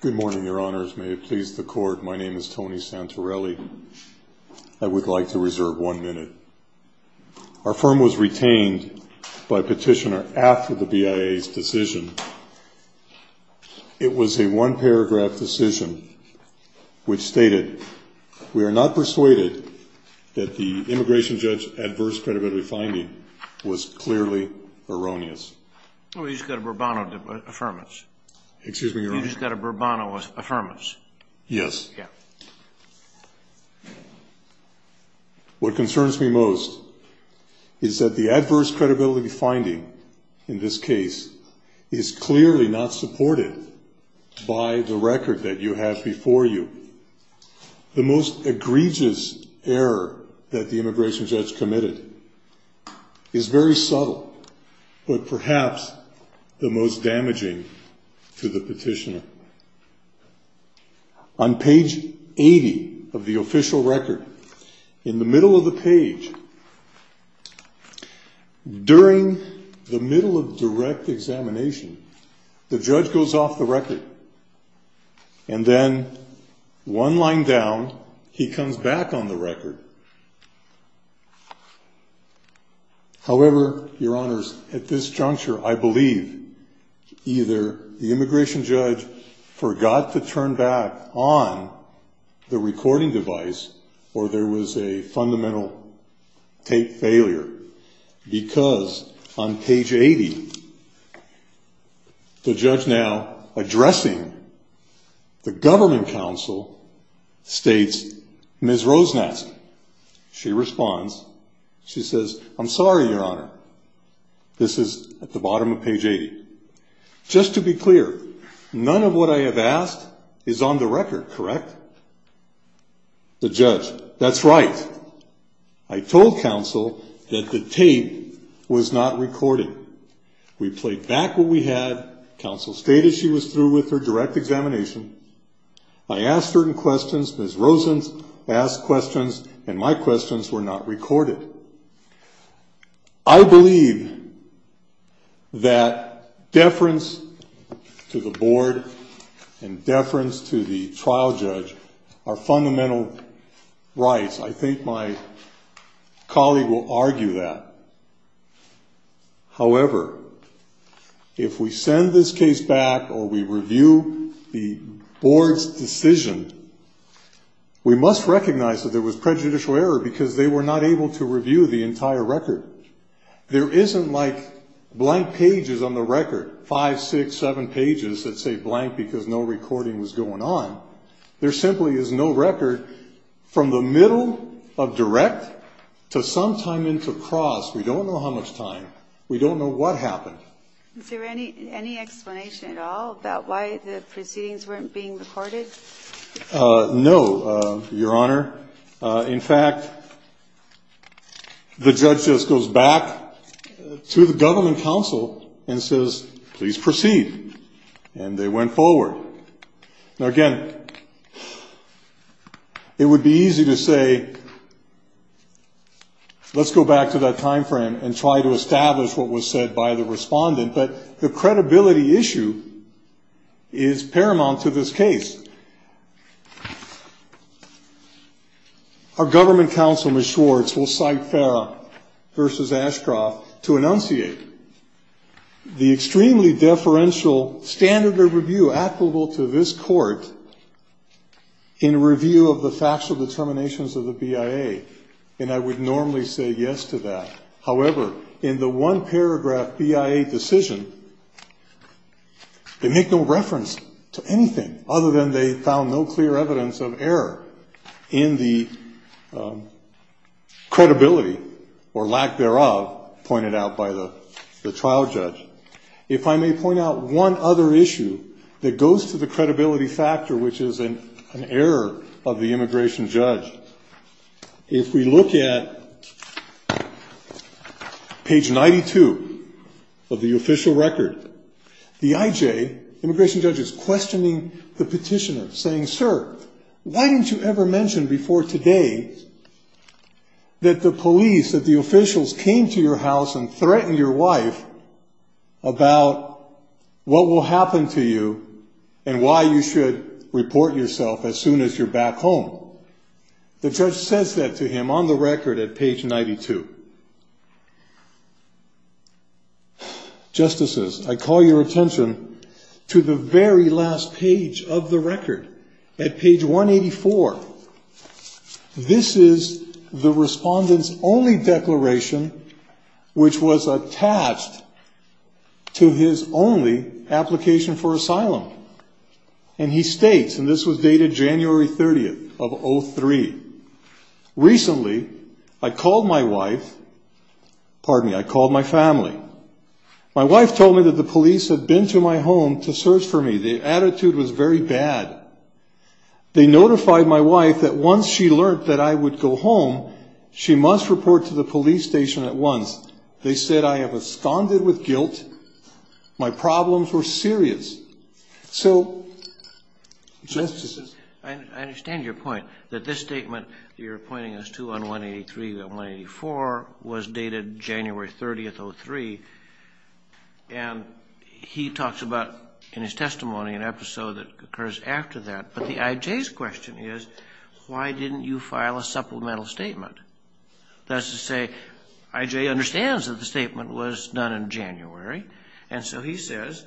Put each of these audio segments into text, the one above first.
Good morning, Your Honors. May it please the Court, my name is Tony Santorelli. I would like to reserve one minute. Our firm was retained by petitioner after the BIA's decision. It was a one-paragraph decision which stated, We are not persuaded that the immigration judge's adverse credibility finding was clearly erroneous. Oh, you just got a Bourbano affirmance. Excuse me, Your Honor. You just got a Bourbano affirmance. Yes. Yeah. What concerns me most is that the adverse credibility finding in this case is clearly not supported by the record that you have before you. The most egregious error that the immigration judge committed is very subtle, but perhaps the most damaging to the petitioner. On page 80 of the official record, in the middle of the page, during the middle of direct examination, the judge goes off the record, and then one line down, he comes back on the record. However, Your Honors, at this juncture, I believe either the immigration judge forgot to turn back on the recording device, or there was a fundamental tape failure, because on page 80, the judge now addressing the government counsel states, Ms. Rosen asked. She responds. She says, I'm sorry, Your Honor. This is at the bottom of page 80. Just to be clear, none of what I have asked is on the record, correct? The judge, that's right. I told counsel that the tape was not recording. We played back what we had. Counsel stated she was through with her direct examination. I asked certain questions. Ms. Rosen asked questions, and my questions were not recorded. I believe that deference to the board and deference to the trial judge are fundamental rights. I think my colleague will argue that. However, if we send this case back or we review the board's decision, we must recognize that there was prejudicial error, because they were not able to review the entire record. There isn't like blank pages on the record, five, six, seven pages that say blank, because no recording was going on. There simply is no record from the middle of direct to sometime into cross. We don't know how much time. We don't know what happened. Is there any explanation at all about why the proceedings weren't being recorded? No, Your Honor. In fact, the judge just goes back to the government counsel and says, please proceed. And they went forward. Now, again, it would be easy to say, let's go back to that time frame and try to establish what was said by the respondent, but the credibility issue is paramount to this case. Our government counsel, Ms. Schwartz, will cite Farah v. Ashcroft to enunciate the extremely deferential standard of review applicable to this court in review of the factual determinations of the BIA, and I would normally say yes to that. However, in the one-paragraph BIA decision, they make no reference to anything other than they found no clear evidence of error in the credibility or lack thereof pointed out by the trial judge. If I may point out one other issue that goes to the credibility factor, which is an error of the immigration judge, if we look at page 92 of the official record, the IJ, immigration judge, is questioning the petitioner, saying, Why didn't you ever mention before today that the police, that the officials came to your house and threatened your wife about what will happen to you and why you should report yourself as soon as you're back home? The judge says that to him on the record at page 92. Justices, I call your attention to the very last page of the record, at page 184. This is the respondent's only declaration, which was attached to his only application for asylum, and he states, and this was dated January 30th of 03, Recently, I called my wife, pardon me, I called my family. My wife told me that the police had been to my home to search for me. The attitude was very bad. They notified my wife that once she learned that I would go home, she must report to the police station at once. They said I have absconded with guilt. My problems were serious. So, justices. I understand your point, that this statement, you're pointing us to on 183 and 184 was dated January 30th of 03, and he talks about in his testimony an episode that occurs after that, but the I.J.'s question is, why didn't you file a supplemental statement? That's to say, I.J. understands that the statement was done in January, and so he says,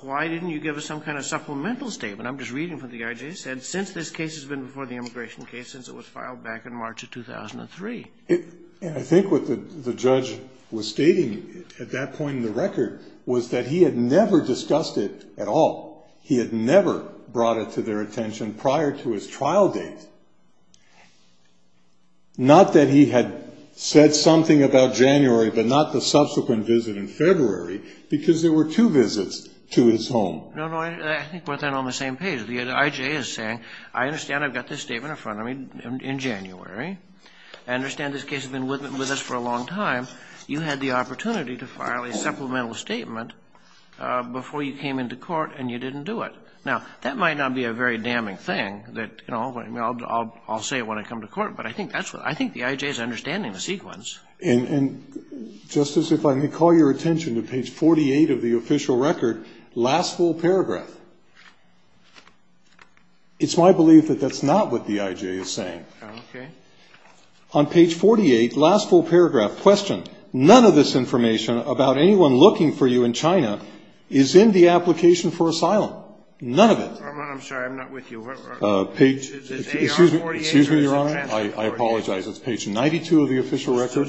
why didn't you give us some kind of supplemental statement? I'm just reading from what the I.J. said. Since this case has been before the immigration case, since it was filed back in March of 2003. And I think what the judge was stating at that point in the record was that he had never discussed it at all. He had never brought it to their attention prior to his trial date. Not that he had said something about January, but not the subsequent visit in February, because there were two visits to his home. No, no, I think we're then on the same page. The I.J. is saying, I understand I've got this statement in front of me in January. I understand this case has been with us for a long time. You had the opportunity to file a supplemental statement before you came into court and you didn't do it. Now, that might not be a very damning thing, I'll say it when I come to court, but I think the I.J. is understanding the sequence. And, Justice, if I may call your attention to page 48 of the official record, last full paragraph. It's my belief that that's not what the I.J. is saying. Okay. On page 48, last full paragraph, question. None of this information about anyone looking for you in China is in the application for asylum. None of it. I'm sorry, I'm not with you. Excuse me, Your Honor, I apologize. It's page 92 of the official record.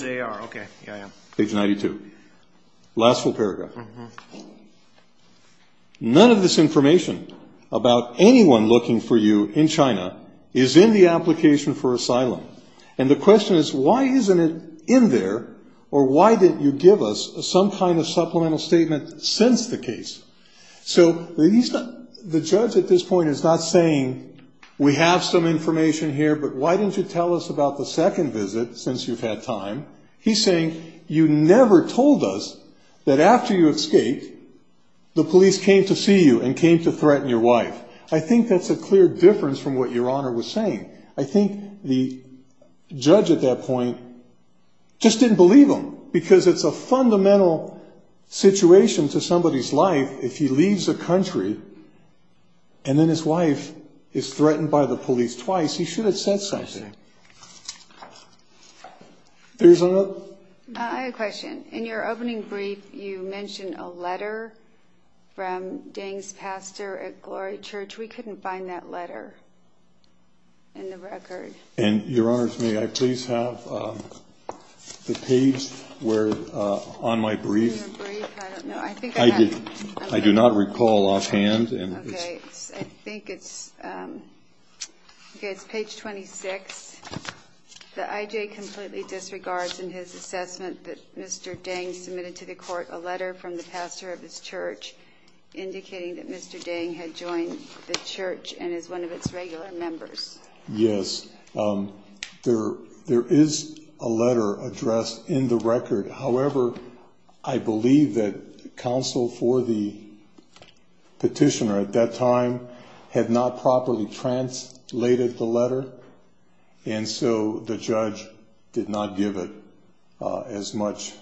Page 92. Last full paragraph. None of this information about anyone looking for you in China is in the application for asylum. And the question is, why isn't it in there, or why didn't you give us some kind of supplemental statement since the case? So the judge at this point is not saying, we have some information here, but why didn't you tell us about the second visit since you've had time? He's saying, you never told us that after you escaped, the police came to see you and came to threaten your wife. I think that's a clear difference from what Your Honor was saying. I think the judge at that point just didn't believe him, because it's a fundamental situation to somebody's life. If he leaves the country and then his wife is threatened by the police twice, he should have said something. I have a question. In your opening brief, you mentioned a letter from Deng's pastor at Glory Church. We couldn't find that letter in the record. Your Honors, may I please have the page on my brief? I don't know. I do not recall offhand. Okay. I think it's page 26. The IJ completely disregards in his assessment that Mr. Deng submitted to the court a letter from the pastor of his church, indicating that Mr. Deng had joined the church and is one of its regular members. Yes. There is a letter addressed in the record. However, I believe that counsel for the petitioner at that time had not properly translated the letter, and so the judge did not give it as much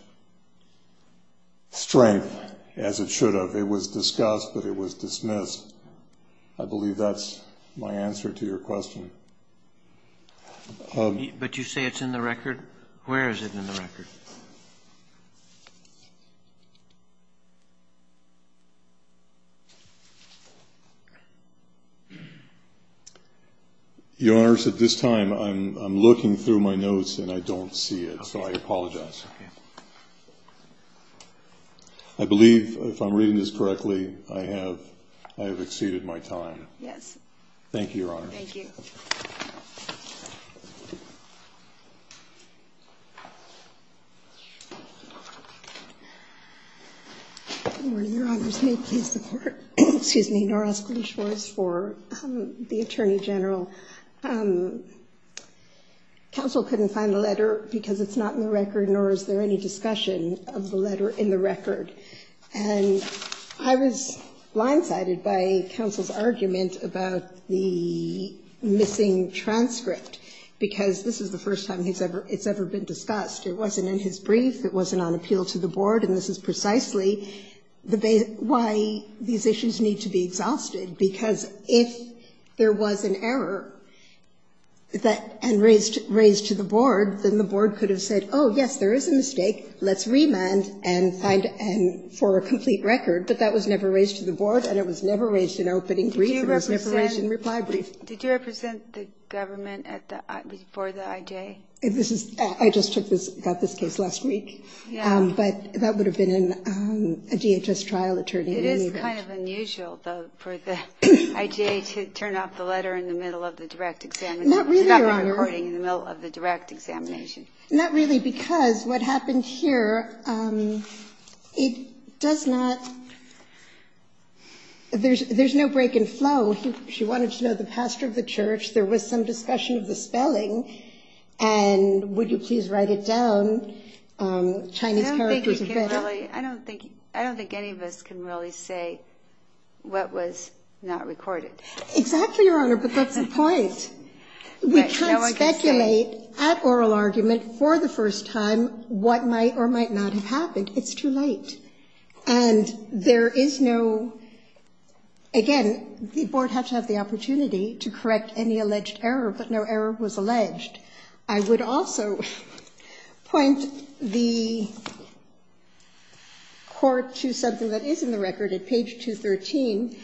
strength as it should have. It was discussed, but it was dismissed. I believe that's my answer to your question. But you say it's in the record? Where is it in the record? Your Honors, at this time I'm looking through my notes and I don't see it, so I apologize. Okay. I believe, if I'm reading this correctly, I have exceeded my time. Yes. Thank you, Your Honor. Thank you. Good morning, Your Honors. May it please the Court. Excuse me. Nora Eskridge for the Attorney General. Counsel couldn't find the letter because it's not in the record, nor is there any discussion of the letter in the record. And I was blindsided by counsel's argument about the missing transcript, because this is the first time it's ever been discussed. It wasn't in his brief, it wasn't on appeal to the board, and this is precisely why these issues need to be exhausted, because if there was an error and raised to the board, then the board could have said, oh, yes, there is a mistake. Let's remand for a complete record. But that was never raised to the board and it was never raised in opening brief and it was never raised in reply brief. Did you represent the government before the IJ? I just got this case last week. But that would have been a DHS trial attorney. It is kind of unusual, though, for the IJ to turn off the letter in the middle of the direct examination. Not really, Your Honor. It's not been recording in the middle of the direct examination. Not really, because what happened here, it does not – there's no break in flow. She wanted to know the pastor of the church. There was some discussion of the spelling. And would you please write it down? Chinese characters are better. I don't think any of us can really say what was not recorded. Exactly, Your Honor, but that's the point. We can't speculate at oral argument for the first time what might or might not have happened. It's too late. And there is no – again, the board has to have the opportunity to correct any alleged error, but no error was alleged. I would also point the court to something that is in the record at page 213.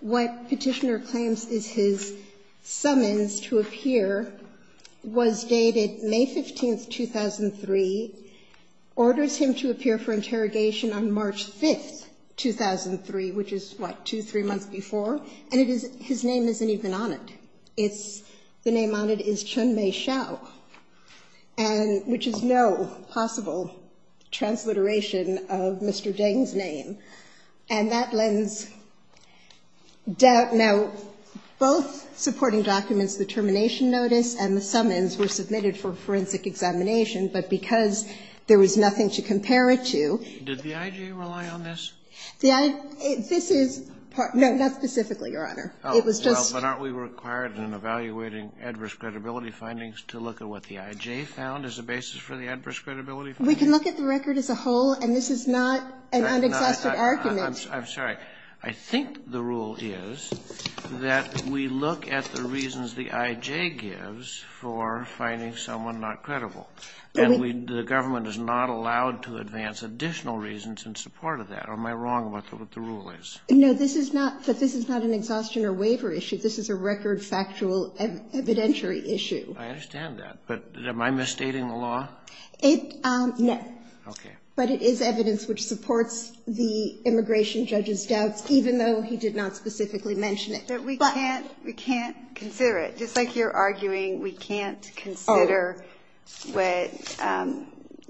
What Petitioner claims is his summons to appear was dated May 15th, 2003, orders him to appear for interrogation on March 5th, 2003, which is what, two, three months before? And it is – his name isn't even on it. It's – the name on it is Chun-Mei Hsiao, which is no possible transliteration of Mr. Deng's name. And that lends doubt. Now, both supporting documents, the termination notice and the summons, were submitted for forensic examination. But because there was nothing to compare it to – Did the I.G. rely on this? The – this is – no, not specifically, Your Honor. It was just – Well, but aren't we required in evaluating adverse credibility findings to look at what the I.J. found as a basis for the adverse credibility findings? We can look at the record as a whole, and this is not an unexhausted argument. I'm sorry. I think the rule is that we look at the reasons the I.J. gives for finding someone not credible. And we – the government is not allowed to advance additional reasons in support of that. Or am I wrong about what the rule is? No, this is not – but this is not an exhaustion or waiver issue. This is a record, factual, evidentiary issue. I understand that. But am I misstating the law? It – no. Okay. But it is evidence which supports the immigration judge's doubts, even though he did not specifically mention it. But we can't – we can't consider it. Just like you're arguing we can't consider what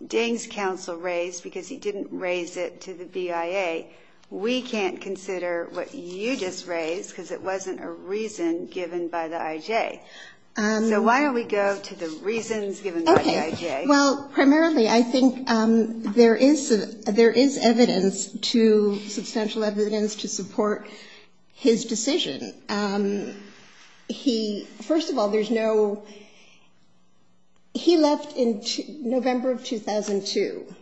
Deng's counsel raised because he didn't raise it to the BIA. We can't consider what you just raised because it wasn't a reason given by the I.J. So why don't we go to the reasons given by the I.J.? Okay. Well, primarily, I think there is – there is evidence to – substantial evidence to support his decision. He – first of all, there's no – he left in November of 2002.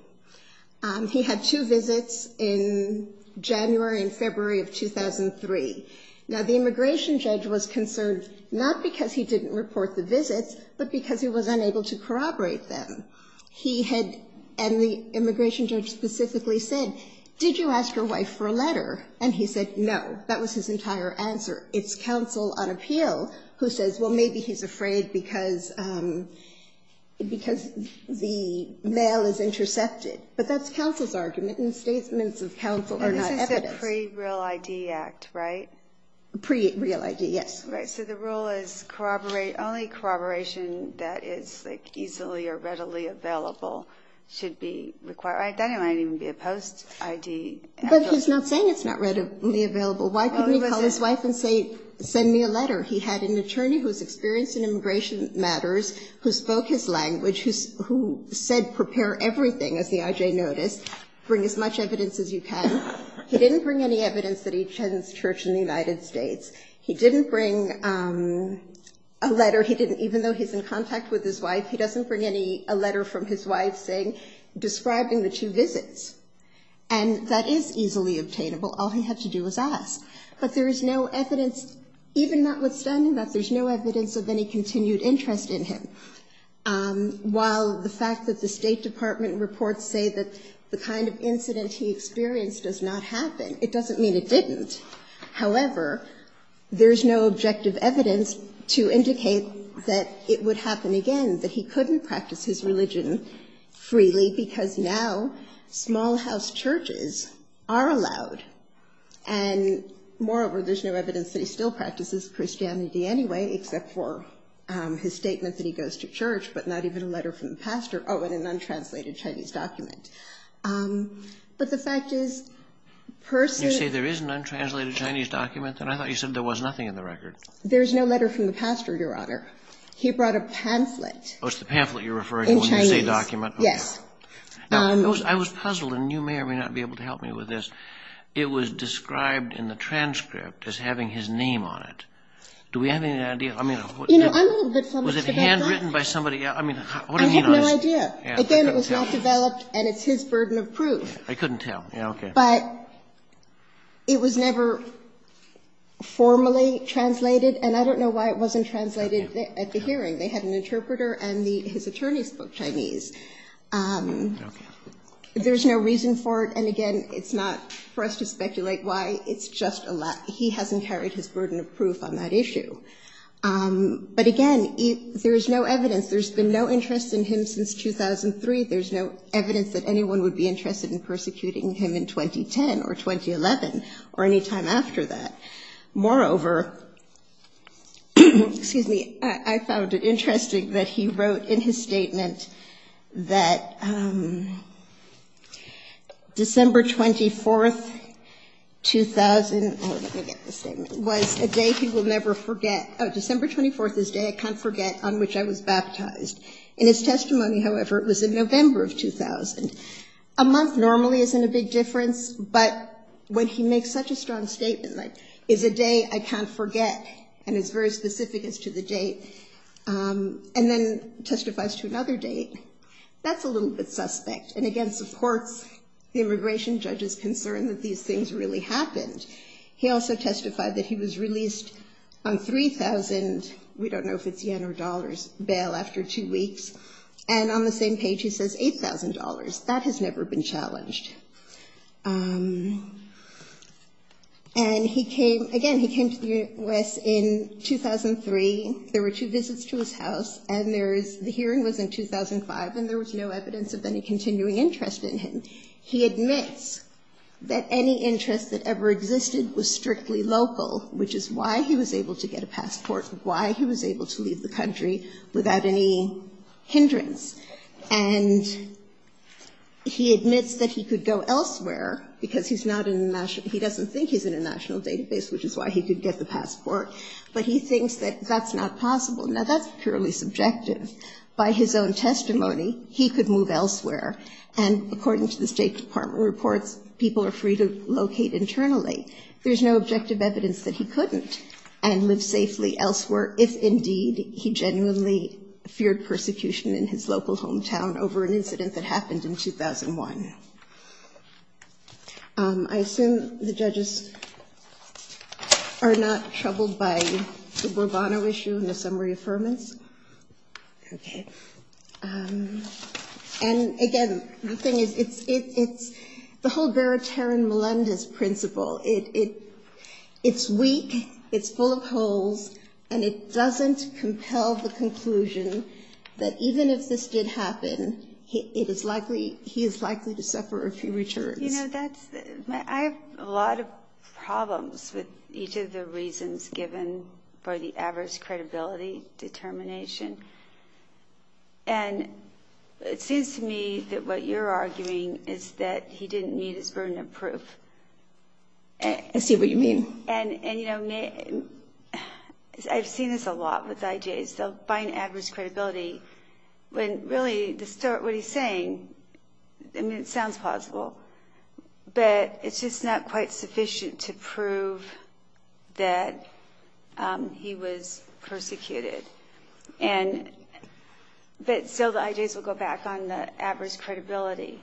He had two visits in January and February of 2003. Now, the immigration judge was concerned not because he didn't report the visits, but because he was unable to corroborate them. He had – and the immigration judge specifically said, did you ask your wife for a letter? And he said no. That was his entire answer. It's counsel on appeal who says, well, maybe he's afraid because – because the mail is intercepted. But that's counsel's argument, and the statements of counsel are not evidence. And this is a pre-real ID act, right? Pre-real ID, yes. Right. So the rule is corroborate – only corroboration that is, like, easily or readily available should be required. I thought it might even be a post-ID act. But he's not saying it's not readily available. Why couldn't he call his wife and say, send me a letter? He had an attorney who was experienced in immigration matters who spoke his language, who said prepare everything, as the IJ noticed, bring as much evidence as you can. He didn't bring any evidence that he attends church in the United States. He didn't bring a letter. He didn't – even though he's in contact with his wife, he doesn't bring any – a letter from his wife saying – describing the two visits. And that is easily obtainable. All he had to do was ask. But there is no evidence, even notwithstanding that, there's no evidence of any while the fact that the State Department reports say that the kind of incident he experienced does not happen, it doesn't mean it didn't. However, there's no objective evidence to indicate that it would happen again, that he couldn't practice his religion freely because now small house churches are allowed. And moreover, there's no evidence that he still practices Christianity anyway, except for his statement that he goes to church, but not even a letter from the pastor. Oh, and an untranslated Chinese document. But the fact is – You say there is an untranslated Chinese document? And I thought you said there was nothing in the record. There's no letter from the pastor, Your Honor. He brought a pamphlet. Oh, it's the pamphlet you're referring to when you say document. Yes. Now, I was puzzled, and you may or may not be able to help me with this. It was described in the transcript as having his name on it. Do we have any idea? You know, I'm a little bit flummoxed about that. Was it handwritten by somebody? I mean, what do you know? I have no idea. Again, it was not developed, and it's his burden of proof. I couldn't tell. Okay. But it was never formally translated, and I don't know why it wasn't translated at the hearing. They had an interpreter, and his attorney spoke Chinese. There's no reason for it, and again, it's not for us to speculate why. He hasn't carried his burden of proof on that issue. But again, there is no evidence. There's been no interest in him since 2003. There's no evidence that anyone would be interested in persecuting him in 2010 or 2011 or any time after that. Moreover, excuse me, I found it interesting that he wrote in his statement that December 24th, 2000 was a day he will never forget. December 24th is a day I can't forget on which I was baptized. In his testimony, however, it was in November of 2000. A month normally isn't a big difference, but when he makes such a strong statement like, it's a day I can't forget, and it's very specific as to the date, and then testifies to another date, that's a little bit suspect, and again supports the immigration judge's concern that these things really happened. He also testified that he was released on 3,000, we don't know if it's yen or dollars, bail after two weeks, and on the same page he says $8,000. That has never been challenged. And he came, again, he came to the U.S. in 2003. There were two visits to his house, and there is, the hearing was in 2005, and there was no evidence of any continuing interest in him. He admits that any interest that ever existed was strictly local, which is why he was able to get a passport, why he was able to leave the country without any hindrance. And he admits that he could go elsewhere, because he's not in the national, he doesn't think he's in a national database, which is why he could get the passport. But he thinks that that's not possible. Now, that's purely subjective. By his own testimony, he could move elsewhere. And according to the State Department reports, people are free to locate internally. There's no objective evidence that he couldn't and live safely elsewhere, if indeed he genuinely feared persecution in his local hometown over an incident that happened in 2001. I assume the judges are not troubled by the Borbono issue and the summary affirmants. Okay. And again, the thing is, it's, it's, it's, the whole veritarian Melendez principle, it, it, it's weak, it's full of holes, and it doesn't compel the conclusion that even if this did happen, he is likely, he is likely to suffer a few returns. You know, that's, I have a lot of problems with each of the reasons given for the average credibility determination. And it seems to me that what you're arguing is that he didn't need his burden of proof. I see what you mean. And, and, you know, I've seen this a lot with IJs, they'll find adverse credibility when really distort what he's saying. I mean, it sounds possible, but it's just not quite sufficient to prove that he was persecuted. And, but still the IJs will go back on the average credibility.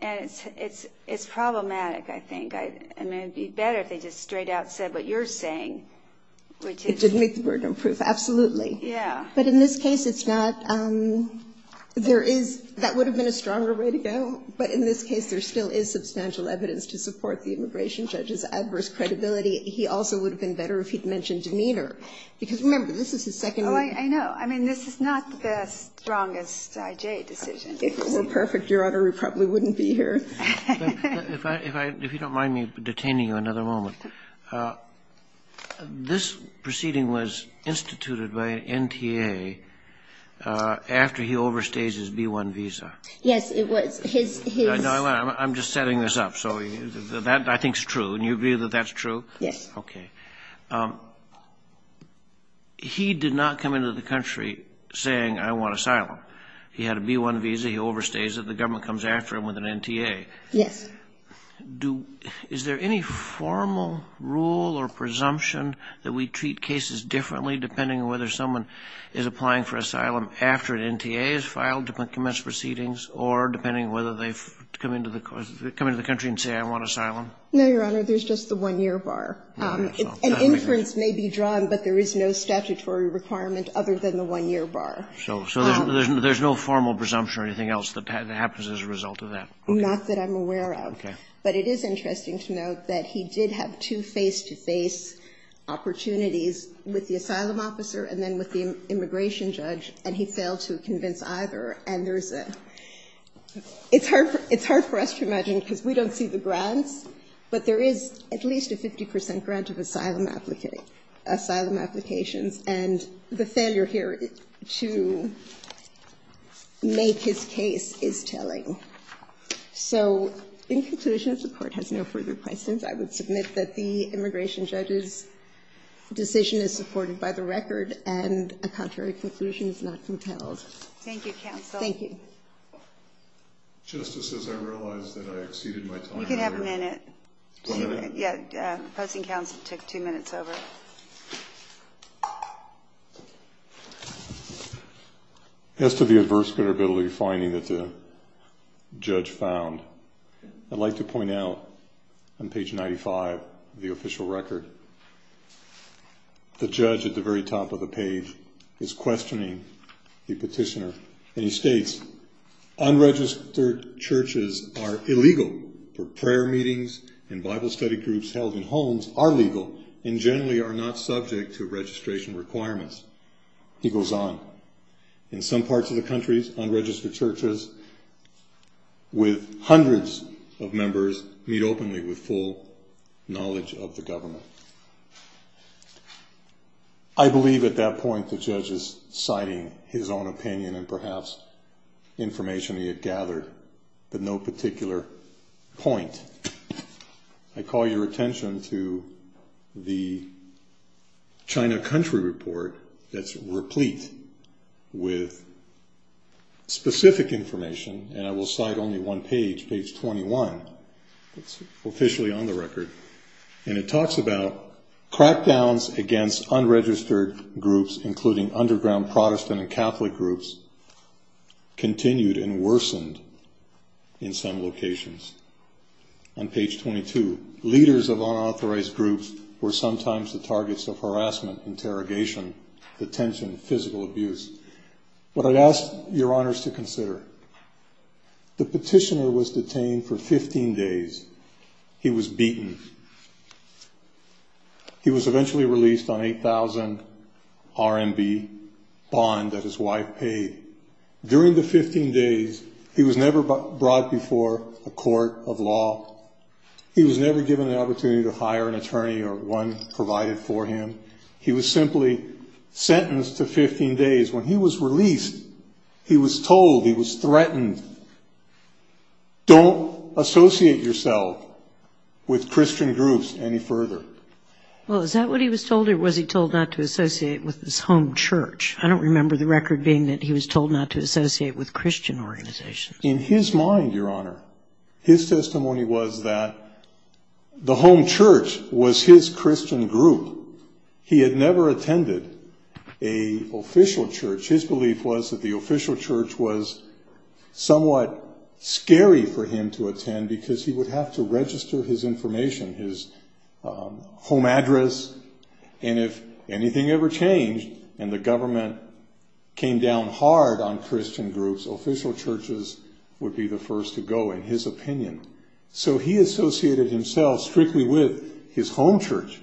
And it's, it's, it's problematic. I think I, I mean, it'd be better if they just straight out said what you're saying, which is. It didn't make the burden of proof. Absolutely. Yeah. But in this case, it's not, there is, that would have been a stronger way to go, but in this case there still is substantial evidence to support the immigration judge's adverse credibility. He also would have been better if he'd mentioned demeanor because remember, this is his second. I know. I mean, this is not the strongest IJ decision. If it were perfect, Your Honor, we probably wouldn't be here. If I, if I, if you don't mind me detaining you another moment. This proceeding was instituted by an NTA after he overstays his B-1 visa. Yes, it was. His, his. I'm just setting this up. So that I think is true. And you agree that that's true? Yes. Okay. He did not come into the country saying, I want asylum. He had a B-1 visa. He overstays it. The government comes after him with an NTA. Yes. Do, is there any formal rule or presumption that we treat cases differently depending on whether someone is applying for asylum after an NTA is filed to commence proceedings or depending on whether they've come into the country and say, I want asylum? No, Your Honor. There's just the one-year bar. An inference may be drawn, but there is no statutory requirement other than the one-year bar. So, so there's, there's no formal presumption or anything else that happens as a result of that? Not that I'm aware of. Okay. But it is interesting to note that he did have two face-to-face opportunities with the asylum officer and then with the immigration judge, and he failed to convince either. And there's a, it's hard, it's hard for us to imagine because we don't see the grants, but there is at least a 50 percent grant of asylum applicant, asylum applications. And the failure here to make his case is telling. So, in conclusion, if the court has no further questions, I would submit that the immigration judge's decision is supported by the record and a contrary conclusion is not compelled. Thank you, counsel. Thank you. Just as I realized that I exceeded my time. You can have a minute. One minute? Yeah, the opposing counsel took two minutes over. As to the adverse credibility finding that the judge found, I'd like to point out on page 95 of the official record, the judge at the very top of the page is questioning the petitioner. And he states, unregistered churches are illegal. Prayer meetings and Bible study groups held in homes are legal and generally are not subject to registration requirements. He goes on. In some parts of the countries, unregistered churches with hundreds of members meet openly with full knowledge of the government. I believe at that point the judge is citing his own point. I call your attention to the China country report that's replete with specific information. And I will cite only one page, page 21. It's officially on the record. And it talks about crackdowns against unregistered groups, including underground Protestant and Catholic groups, continued and worsened in some locations. On page 22, leaders of unauthorized groups were sometimes the targets of harassment, interrogation, detention, physical abuse. What I'd ask your honors to consider, the petitioner was detained for 15 days. He was beaten. He was eventually released on 8,000 RMB bond that his wife paid. During the 15 days, he was never brought before a court of law. He was never given an opportunity to hire an attorney or one provided for him. He was simply sentenced to 15 days. When he was released, he was told, he was threatened, don't associate yourself with Christian organizations. In his mind, your honor, his testimony was that the home church was his Christian group. He had never attended an official church. His belief was that the official church was somewhat scary for him to attend because he would have to register his information, his home address. If anything ever changed and the government came down hard on Christian groups, official churches would be the first to go, in his opinion. He associated himself strictly with his home church.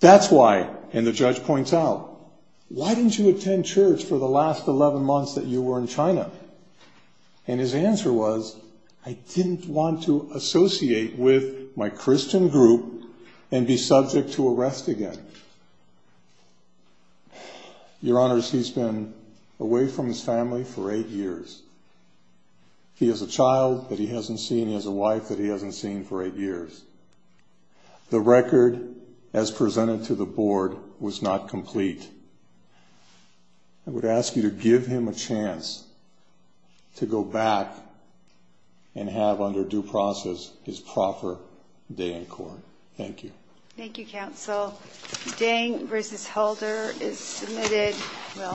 That's why, and the judge points out, why didn't you attend church for the last 11 months that you were in China? And his answer was, I didn't want to associate with my Christian group and be subject to arrest again. Your honors, he's been away from his family for eight years. He has a child that he hasn't seen. He has a wife that he hasn't seen for eight years. The record as presented to the board was not complete. I would ask you to give him a chance to go back and have, under due process, his proper day in court. Thank you. Thank you, counsel.